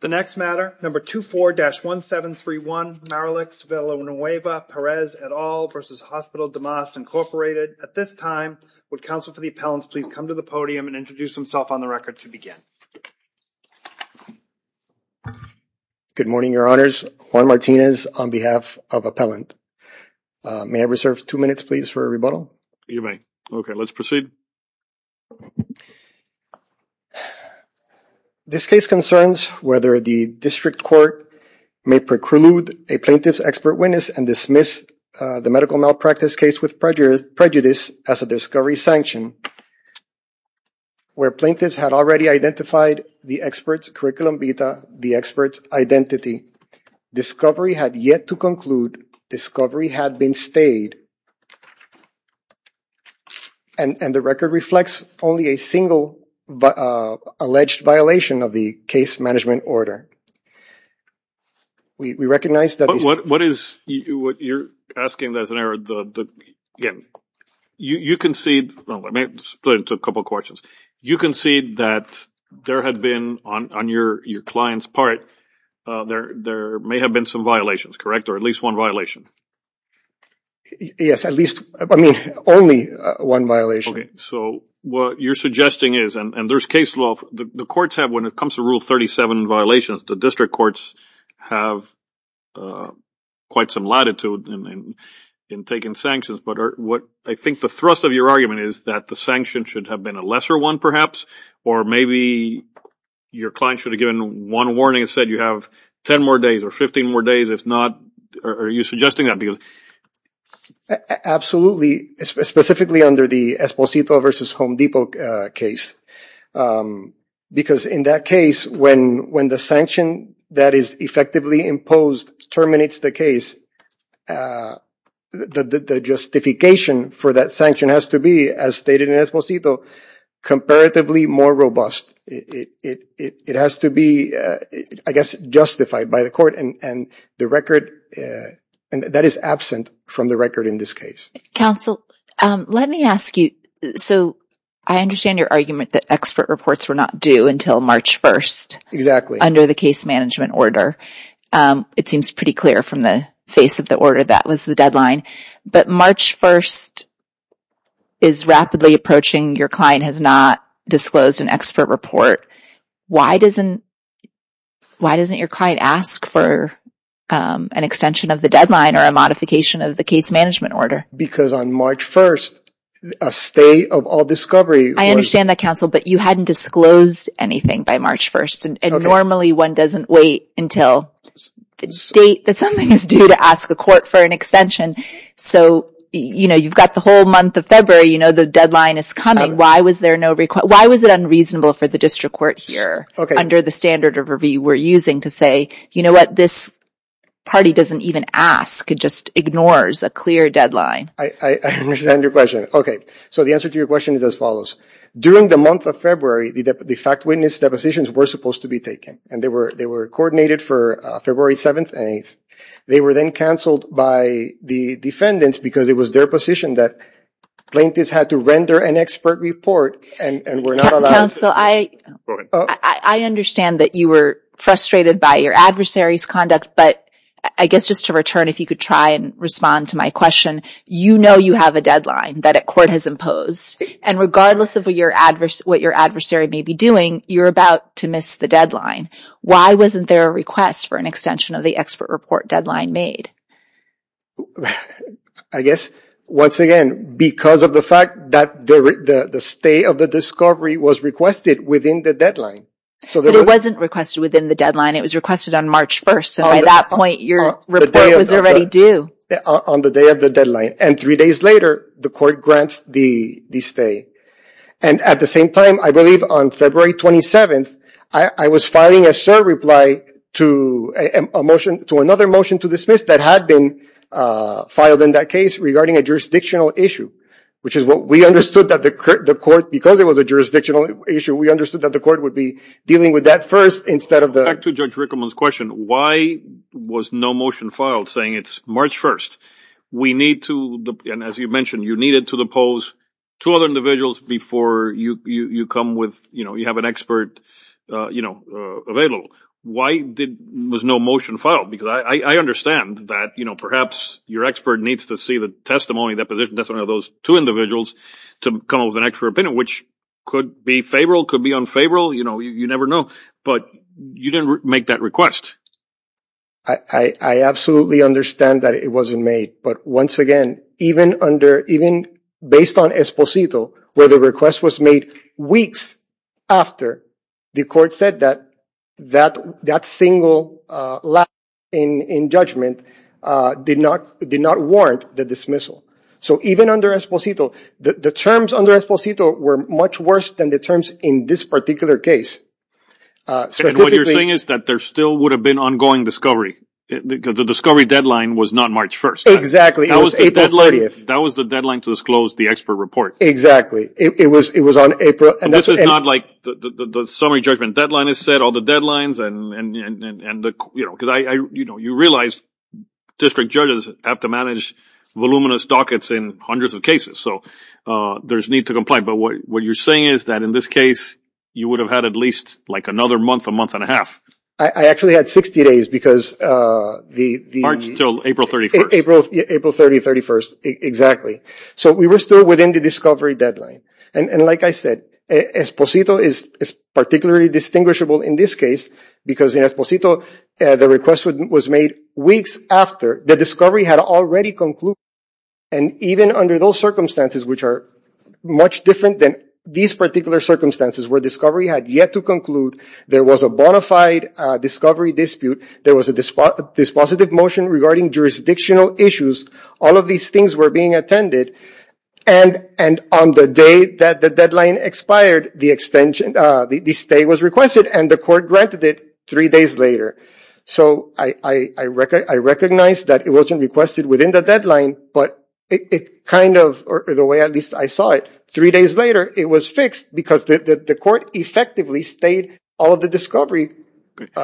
The next matter, number 24-1731, Maralex Vananueva Perez et al. versus Hospital Damas, Incorporated. At this time, would counsel for the appellants please come to the podium and introduce himself on the record to begin. Good morning, your honors. Juan Martinez on behalf of appellant. May I reserve two minutes, please, for a rebuttal? You may. Okay, let's proceed. This case concerns whether the district court may preclude a plaintiff's expert witness and dismiss the medical malpractice case with prejudice as a discovery sanction where plaintiffs had already identified the expert's curriculum vita, the expert's identity. Discovery had yet to conclude. Discovery had been stayed. And the record reflects only a single alleged violation of the case management order. We recognize that this- What is- you're asking that as an error. You concede- let me split it into a couple of questions. You concede that there had been, on your client's part, there may have been some violations, correct? Or at least one violation? Yes, at least- I mean, only one violation. Okay, so what you're suggesting is- and there's case law. The courts have, when it comes to Rule 37 violations, the district courts have quite some latitude in taking sanctions. But what- I think the thrust of your argument is that the sanction should have been a lesser one, perhaps. Or maybe your client should have given one warning and said you have 10 more days or 15 more days. If not, are you suggesting that? Absolutely, specifically under the Esposito v. Home Depot case. Because in that case, when the sanction that is effectively imposed terminates the case, the justification for that sanction has to be, as stated in Esposito, comparatively more robust. It has to be, I guess, justified by the court. And the record- that is absent from the record in this case. Counsel, let me ask you- so I understand your argument that expert reports were not due until March 1st. Exactly. Under the case management order. It seems pretty clear from the face of the order that was the deadline. But March 1st is rapidly approaching, your client has not disclosed an expert report. Why doesn't your client ask for an extension of the deadline or a modification of the case management order? Because on March 1st, a state of all discovery- I understand that, Counsel, but you hadn't disclosed anything by March 1st. And normally one doesn't wait until the date that something is due to ask the court for an extension. So, you know, you've got the whole month of February, you know, the deadline is coming. Why was it unreasonable for the district court here, under the standard of review we're using to say, you know what, this party doesn't even ask, it just ignores a clear deadline. I understand your question. Okay, so the answer to your question is as follows. During the month of February, the fact witness depositions were supposed to be taken. And they were coordinated for February 7th and 8th. They were then canceled by the defendants because it was their position that plaintiffs had to render an expert report and were not allowed- Counsel, I understand that you were frustrated by your adversary's conduct, but I guess just to return, if you could try and respond to my question, you know you have a deadline that a court has imposed. And regardless of what your adversary may be doing, you're about to miss the deadline. Why wasn't there a request for an extension of the expert report deadline made? I guess, once again, because of the fact that the stay of the discovery was requested within the deadline. But it wasn't requested within the deadline. It was requested on March 1st, so by that point your report was already due. On the day of the deadline. And three days later, the court grants the stay. And at the same time, I believe on February 27th, I was filing a serve reply to another motion to dismiss that had been filed in that case regarding a jurisdictional issue, which is what we understood that the court, because it was a jurisdictional issue, we understood that the court would be dealing with that first instead of the- We need to, and as you mentioned, you needed to depose two other individuals before you come with, you know, you have an expert, you know, available. Why was no motion filed? Because I understand that, you know, perhaps your expert needs to see the testimony, the position testimony of those two individuals to come up with an expert opinion, which could be favorable, could be unfavorable, you know, you never know. But you didn't make that request. I absolutely understand that it wasn't made. But once again, even under, even based on Esposito, where the request was made weeks after, the court said that that single lapse in judgment did not warrant the dismissal. So even under Esposito, the terms under Esposito were much worse than the terms in this particular case. And what you're saying is that there still would have been ongoing discovery, because the discovery deadline was not March 1st. That was the deadline to disclose the expert report. It was on April- This is not like the summary judgment deadline is set, all the deadlines and, you know, you realize district judges have to manage voluminous dockets in hundreds of cases. So there's need to comply. But what you're saying is that in this case, you would have had at least like another month, a month and a half. I actually had 60 days because the- March until April 31st. April 30th, 31st, exactly. So we were still within the discovery deadline. And like I said, Esposito is particularly distinguishable in this case, because in Esposito, the request was made weeks after the discovery had already concluded. And even under those circumstances, which are much different than these particular circumstances, where discovery had yet to conclude, there was a bona fide discovery dispute. There was a dispositive motion regarding jurisdictional issues. All of these things were being attended. And on the day that the deadline expired, the extension, the stay was requested, and the court granted it three days later. So I recognize that it wasn't requested within the deadline, but it kind of, or the way at least I saw it, three days later it was fixed because the court effectively stayed all of the discovery which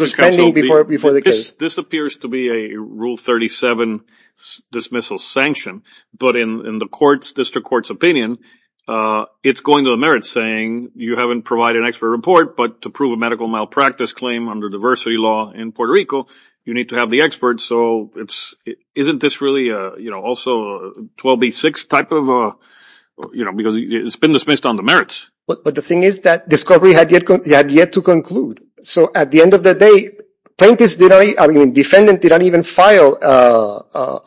was pending before the case. This appears to be a Rule 37 dismissal sanction, but in the court's, district court's opinion, it's going to the merits saying you haven't provided an expert report, but to prove a medical malpractice claim under diversity law in Puerto Rico, you need to have the expert. So isn't this really also a 12B6 type of, because it's been dismissed on the merits. But the thing is that discovery had yet to conclude. So at the end of the day, plaintiffs, I mean defendants, didn't even file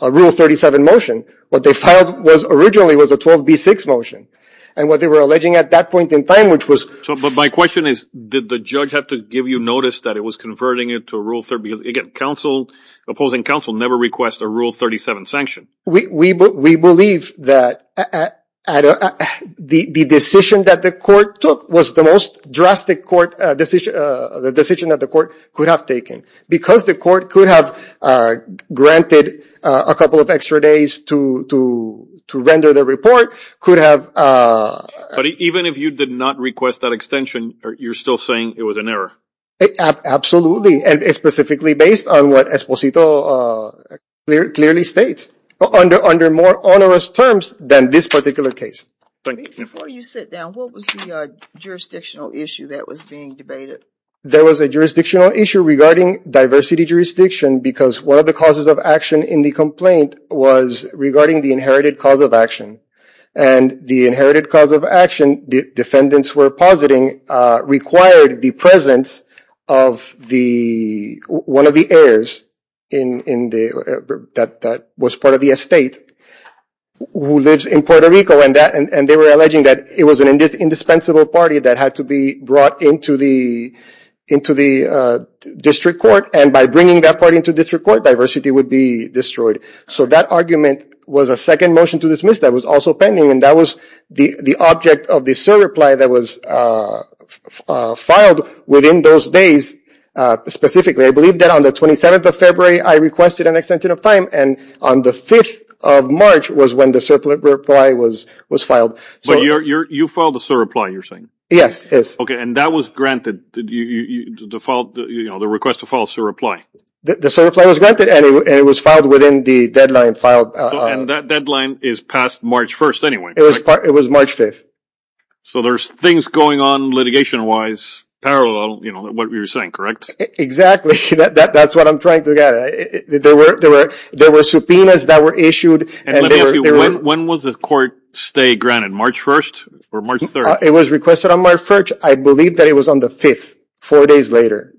a Rule 37 motion. What they filed originally was a 12B6 motion. And what they were alleging at that point in time, which was… But my question is, did the judge have to give you notice that it was converting it to a Rule 37? Because again, opposing counsel never requests a Rule 37 sanction. We believe that the decision that the court took was the most drastic decision that the court could have taken. Because the court could have granted a couple of extra days to render the report, could have… But even if you did not request that extension, you're still saying it was an error? And specifically based on what Esposito clearly states. Under more onerous terms than this particular case. Before you sit down, what was the jurisdictional issue that was being debated? There was a jurisdictional issue regarding diversity jurisdiction, because one of the causes of action in the complaint was regarding the inherited cause of action. And the inherited cause of action, defendants were positing, required the presence of one of the heirs that was part of the estate, who lives in Puerto Rico. And they were alleging that it was an indispensable party that had to be brought into the district court. And by bringing that party into district court, diversity would be destroyed. So that argument was a second motion to dismiss that was also pending. And that was the object of the SIR reply that was filed within those days. Specifically, I believe that on the 27th of February, I requested an extension of time. And on the 5th of March was when the SIR reply was filed. But you filed the SIR reply, you're saying? Yes. And that was granted, the request to file SIR reply? The SIR reply was granted. And it was filed within the deadline filed. And that deadline is past March 1st anyway, correct? It was March 5th. So there's things going on litigation-wise parallel, you know, what you're saying, correct? Exactly. That's what I'm trying to get at. There were subpoenas that were issued. And let me ask you, when was the court stay granted, March 1st or March 3rd? It was requested on March 1st. I believe that it was on the 5th, four days later.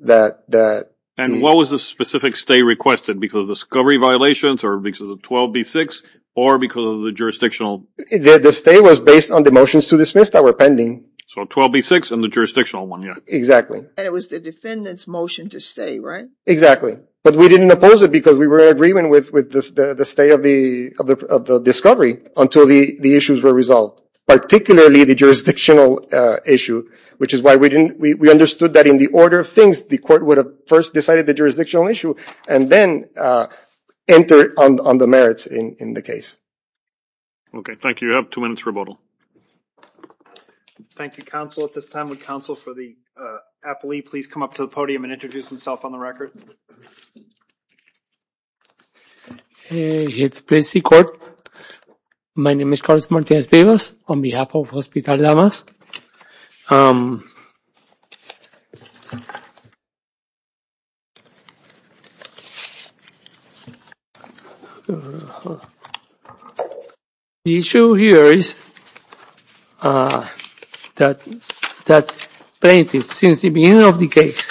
And what was the specific stay requested? Because of discovery violations, or because of 12B6, or because of the jurisdictional? The stay was based on the motions to dismiss that were pending. So 12B6 and the jurisdictional one, yeah. Exactly. And it was the defendant's motion to stay, right? Exactly. But we didn't oppose it because we were in agreement with the stay of the discovery until the issues were resolved. Particularly the jurisdictional issue. Which is why we understood that in the order of things, the court would have first decided the jurisdictional issue, and then entered on the merits in the case. Okay. Thank you. You have two minutes rebuttal. Thank you, counsel. At this time, would counsel for the appellee please come up to the podium and introduce himself on the record? Hi, it's Plaintiff's Court. My name is Carlos Martinez-Vivas on behalf of Hospital Llamas. The issue here is that plaintiffs, since the beginning of the case,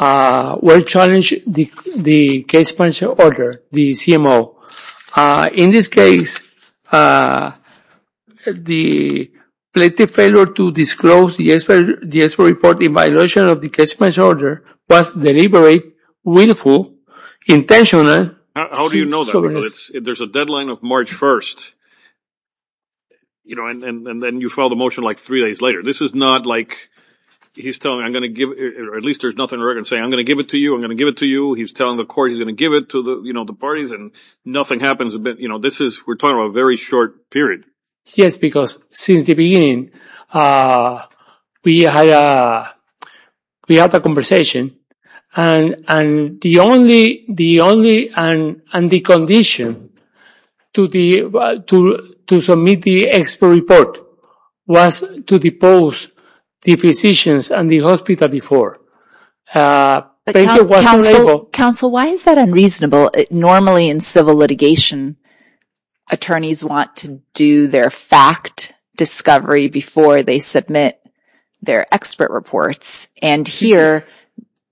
were challenged the case punisher order, the CMO. In this case, the plaintiff failed to disclose the expert report in violation of the case punisher order, was deliberate, willful, intentional. How do you know that? There's a deadline of March 1st. And then you file the motion like three days later. This is not like he's telling, I'm going to give, or at least there's nothing written saying, I'm going to give it to you, I'm going to give it to you. He's telling the court he's going to give it to the parties and nothing happens. We're talking about a very short period. Yes, because since the beginning, we had a conversation. And the only condition to submit the expert report was to depose the physicians and the hospital before. Counsel, why is that unreasonable? Normally in civil litigation, attorneys want to do their fact discovery before they submit their expert reports. And here,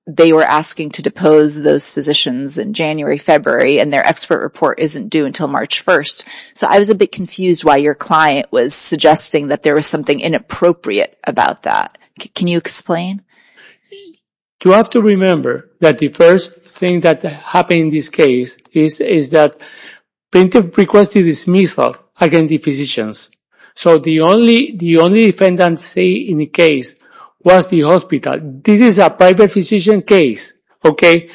they were asking to depose those physicians in January, February, and their expert report isn't due until March 1st. So I was a bit confused why your client was suggesting that there was something inappropriate about that. Can you explain? You have to remember that the first thing that happened in this case is that Plaintiff requested dismissal against the physicians. So the only defendant in the case was the hospital. This is a private physician case, okay?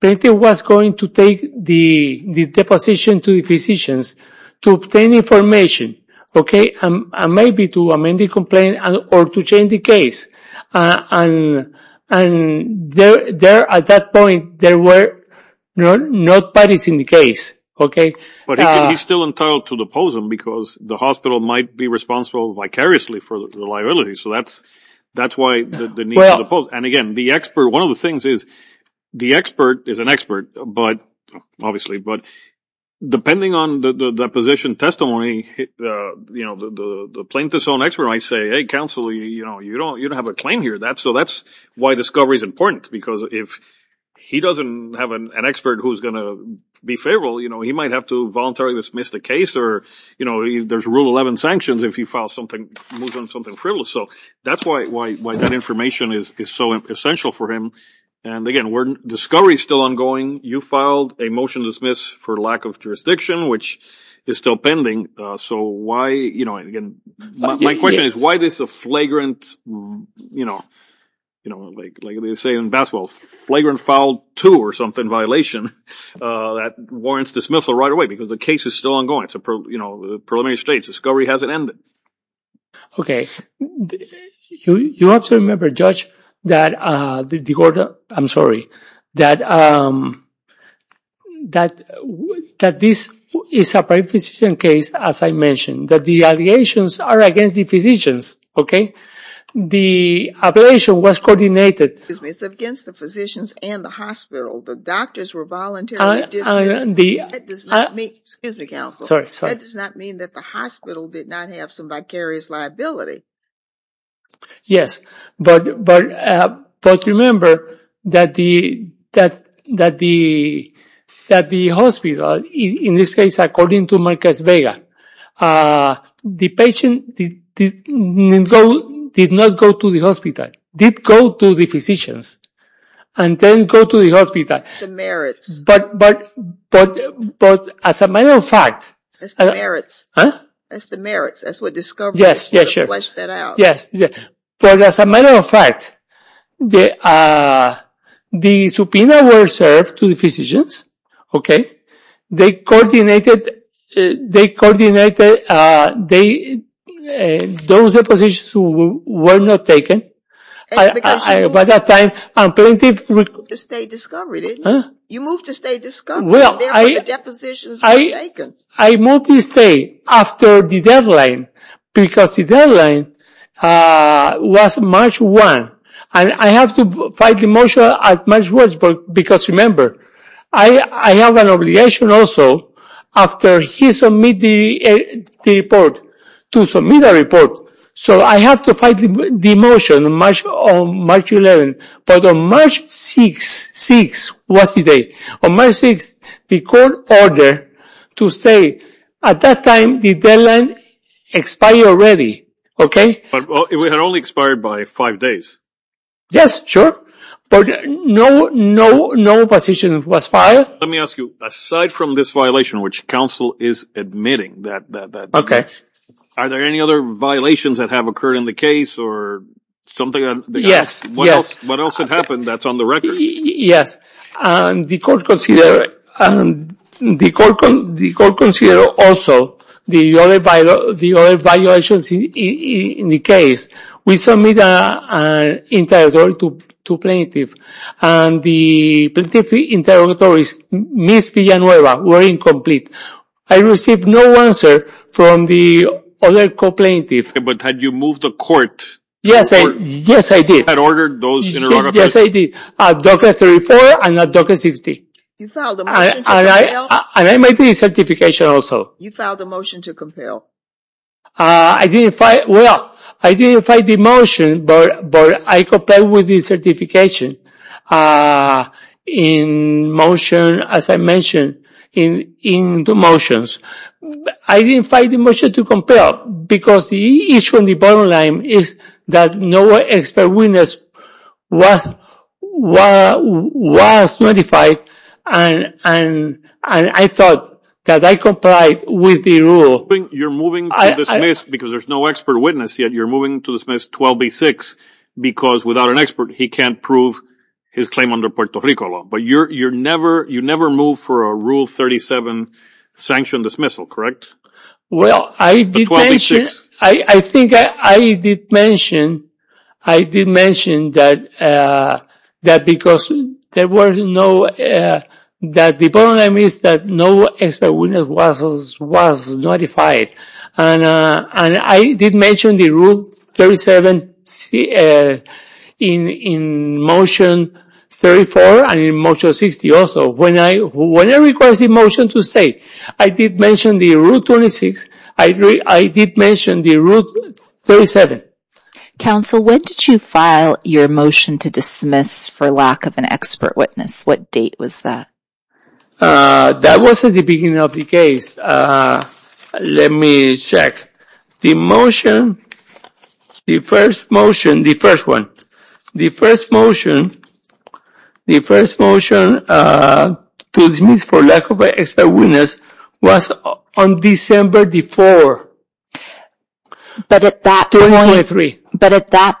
Plaintiff was going to take the deposition to the physicians to obtain information, okay? And maybe to amend the complaint or to change the case. And at that point, there were no parties in the case, okay? But he's still entitled to depose them because the hospital might be responsible vicariously for the liability. So that's why the need to depose. And again, the expert, one of the things is the expert is an expert, obviously. But depending on the deposition testimony, the plaintiff's own expert might say, Hey, counsel, you don't have a claim here. So that's why discovery is important because if he doesn't have an expert who's going to be favorable, he might have to voluntarily dismiss the case or there's Rule 11 sanctions if he moves on something frivolous. So that's why that information is so essential for him. And again, discovery is still ongoing. You filed a motion to dismiss for lack of jurisdiction, which is still pending. So why, you know, again, my question is why this flagrant, you know, like they say in basketball, flagrant foul two or something violation that warrants dismissal right away because the case is still ongoing. It's a preliminary stage. Discovery hasn't ended. Okay. You have to remember, Judge, that the court, I'm sorry, that this is a private physician case, as I mentioned, that the allegations are against the physicians, okay? The allegation was coordinated. It's against the physicians and the hospital. The doctors were voluntarily dismissed. That does not mean, excuse me, counsel. Sorry, sorry. That does not mean that the hospital did not have some vicarious liability. Yes, but remember that the hospital, in this case, according to Marcus Vega, the patient did not go to the hospital, did go to the physicians, and then go to the hospital. The merits. But as a matter of fact. It's the merits. Huh? It's the merits. That's what Discovery is. Yes, yes, sure. Flesh that out. Yes, yes. But as a matter of fact, the subpoena was served to the physicians, okay? They coordinated. They coordinated. Those positions were not taken. By that time, plaintiff. You moved to stay at Discovery, didn't you? Huh? You moved to stay at Discovery. Well, I. There were depositions being taken. I moved to stay after the deadline because the deadline was March 1, and I have to file the motion at March 1 because, remember, I have an obligation also after he submits the report to submit a report. So I have to file the motion on March 11. But on March 6 was the date. On March 6, the court ordered to stay. At that time, the deadline expired already, okay? It had only expired by five days. Yes, sure. But no position was filed. Let me ask you, aside from this violation, which counsel is admitting that. Okay. Are there any other violations that have occurred in the case or something? Yes, yes. What else had happened that's on the record? Yes. The court considered also the other violations in the case. We submitted an interrogatory to plaintiff, and the plaintiff's interrogatories, Miss Villanueva, were incomplete. I received no answer from the other co-plaintiff. But had you moved the court? Yes, I did. You had ordered those interrogatories? Yes, I did. Docker 34 and Docker 60. You filed a motion to compel? And I made the certification also. You filed a motion to compel. Well, I didn't file the motion, but I compelled with the certification in motion, as I mentioned, in the motions. I didn't file the motion to compel because the issue on the bottom line is that no expert witness was notified, and I thought that I complied with the rule. You're moving to dismiss because there's no expert witness yet. You're moving to dismiss 12B-6 because without an expert, he can't prove his claim under Puerto Rico law. But you never moved for a Rule 37 sanctioned dismissal, correct? Well, I did mention that because the bottom line is that no expert witness was notified. And I did mention the Rule 37 in Motion 34 and in Motion 60 also. When I request the motion to stay, I did mention the Rule 26. I did mention the Rule 37. Counsel, when did you file your motion to dismiss for lack of an expert witness? What date was that? That was at the beginning of the case. Let me check. The motion, the first motion, the first one, the first motion, the first motion to dismiss for lack of an expert witness was on December the 4th. But at that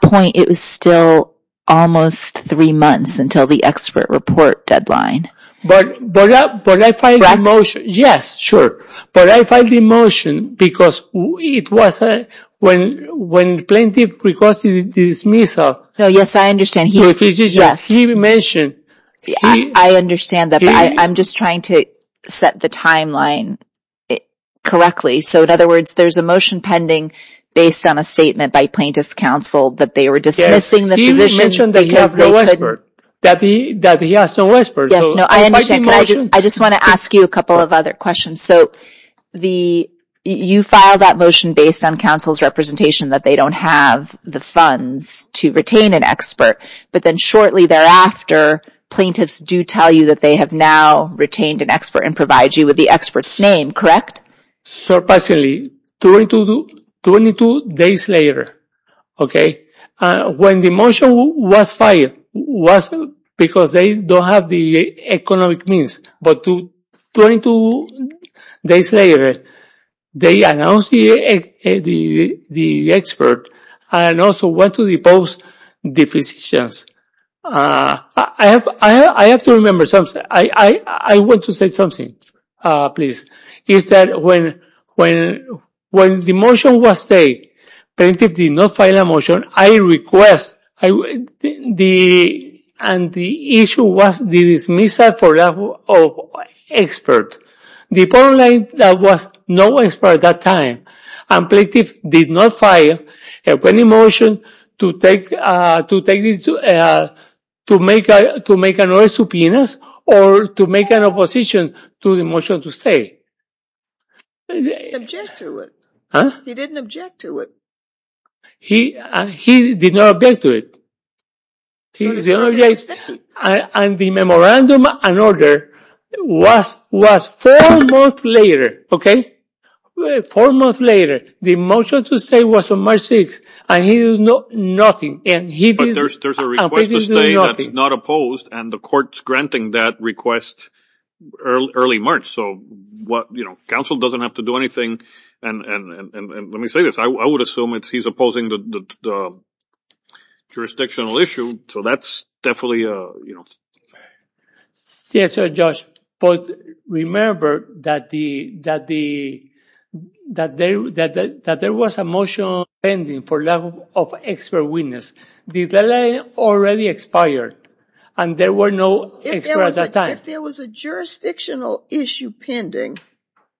point, it was still almost three months until the expert report deadline. Yes, sure. But I filed the motion because it was when the plaintiff requested the dismissal. Yes, I understand. He mentioned. I understand that. I'm just trying to set the timeline correctly. So in other words, there's a motion pending based on a statement by plaintiff's counsel that they were dismissing the positions because they could. He mentioned that he has no expert. Yes, no, I understand. I just want to ask you a couple of other questions. So you filed that motion based on counsel's representation that they don't have the funds to retain an expert. But then shortly thereafter, plaintiffs do tell you that they have now retained an expert and provide you with the expert's name, correct? Surprisingly, 22 days later, okay, when the motion was filed, it was because they don't have the economic means. But 22 days later, they announced the expert and also went to the post the positions. I have to remember something. I want to say something, please. It's that when the motion was taken, plaintiff did not file a motion. I request the issue was dismissed for lack of expert. The point is there was no expert at that time, and plaintiff did not file a pending motion to make another subpoena or to make an opposition to the motion to stay. He didn't object to it. He did not object to it. And the memorandum and order was four months later, okay? Four months later, the motion to stay was on March 6th, and he did nothing. But there's a request to stay that's not opposed, and the court's granting that request early March. So, you know, counsel doesn't have to do anything. And let me say this. I would assume he's opposing the jurisdictional issue, so that's definitely, you know. Yes, Judge, but remember that there was a motion pending for lack of expert witness. The delay already expired, and there were no experts at that time. If there was a jurisdictional issue pending,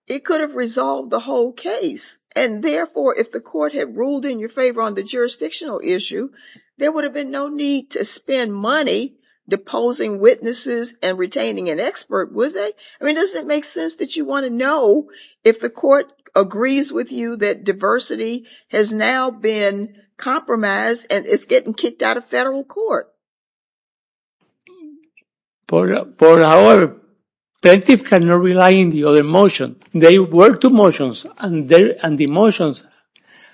it could have resolved the whole case. And therefore, if the court had ruled in your favor on the jurisdictional issue, there would have been no need to spend money deposing witnesses and retaining an expert, would they? I mean, doesn't it make sense that you want to know if the court agrees with you that diversity has now been compromised and is getting kicked out of federal court? But our plaintiff cannot rely on the other motion. They work the motions, and the motions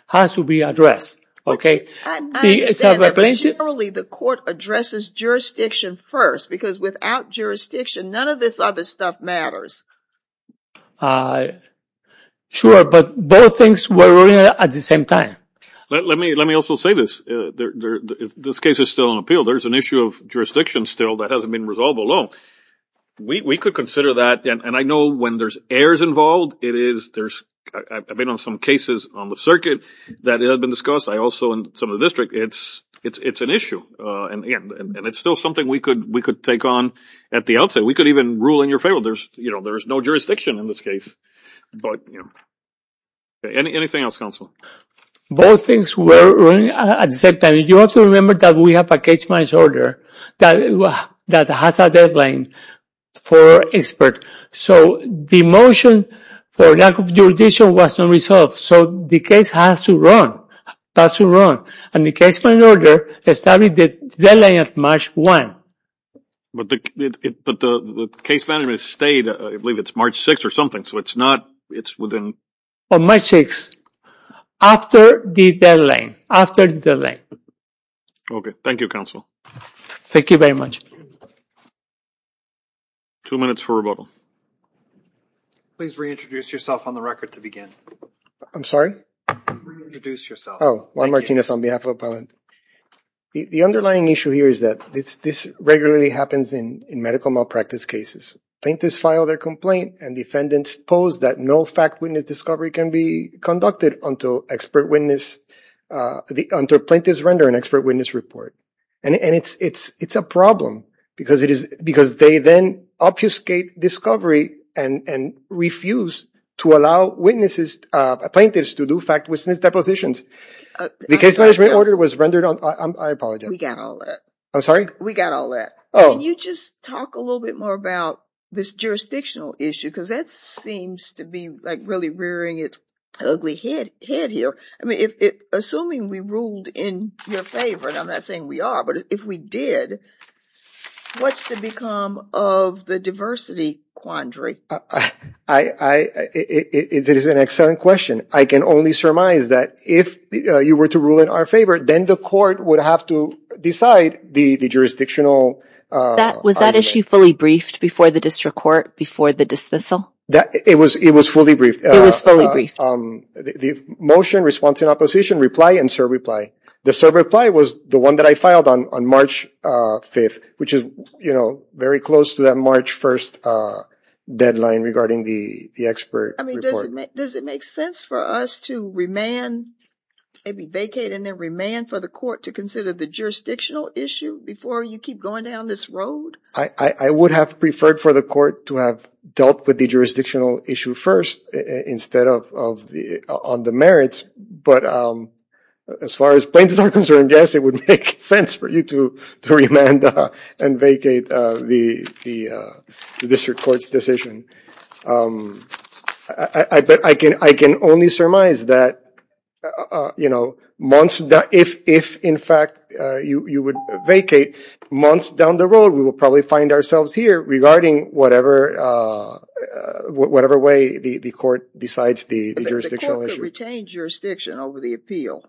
have to be addressed, okay? I understand, but generally the court addresses jurisdiction first, because without jurisdiction, none of this other stuff matters. Sure, but both things were ruled at the same time. Let me also say this. This case is still on appeal. There's an issue of jurisdiction still that hasn't been resolved alone. We could consider that, and I know when there's errors involved, it is. I've been on some cases on the circuit that have been discussed. I also in some of the district. It's an issue, and it's still something we could take on at the outset. We could even rule in your favor. There's no jurisdiction in this case, but anything else, counsel? Both things were ruled at the same time. You have to remember that we have a case by order that has a deadline for expert. So the motion for lack of jurisdiction was not resolved, so the case has to run. It has to run, and the case by order established the deadline of March 1. But the case management stayed, I believe it's March 6 or something, so it's not, it's within. March 6, after the deadline, after the deadline. Okay, thank you, counsel. Thank you very much. Two minutes for rebuttal. Please reintroduce yourself on the record to begin. I'm sorry? Reintroduce yourself. Oh, Juan Martinez on behalf of Appellant. The underlying issue here is that this regularly happens in medical malpractice cases. Plaintiffs file their complaint, and defendants pose that no fact witness discovery can be conducted until plaintiffs render an expert witness report. And it's a problem because they then obfuscate discovery and refuse to allow witnesses, plaintiffs to do fact witness depositions. The case management order was rendered on, I apologize. We got all that. I'm sorry? We got all that. Can you just talk a little bit more about this jurisdictional issue? Because that seems to be like really rearing its ugly head here. I mean, assuming we ruled in your favor, and I'm not saying we are, but if we did, what's to become of the diversity quandary? It is an excellent question. I can only surmise that if you were to rule in our favor, then the court would have to decide the jurisdictional argument. Was that issue fully briefed before the district court, before the dismissal? It was fully briefed. It was fully briefed. The motion responds in opposition, reply, and serve reply. The serve reply was the one that I filed on March 5th, which is, you know, very close to that March 1st deadline regarding the expert report. I mean, does it make sense for us to remand, maybe vacate and then remand for the court to consider the jurisdictional issue before you keep going down this road? I would have preferred for the court to have dealt with the jurisdictional issue first instead of on the merits. But as far as plaintiffs are concerned, yes, it would make sense for you to remand and vacate the district court's decision. But I can only surmise that, you know, if, in fact, you would vacate months down the road, we would probably find ourselves here regarding whatever way the court decides the jurisdictional issue. But the court could retain jurisdiction over the appeal.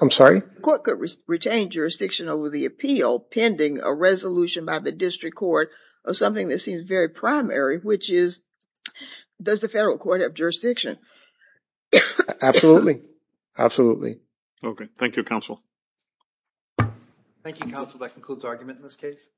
I'm sorry? The court could retain jurisdiction over the appeal pending a resolution by the district court of something that seems very primary, which is, does the federal court have jurisdiction? Absolutely. Absolutely. Okay. Thank you, counsel. Thank you, counsel. That concludes argument in this case.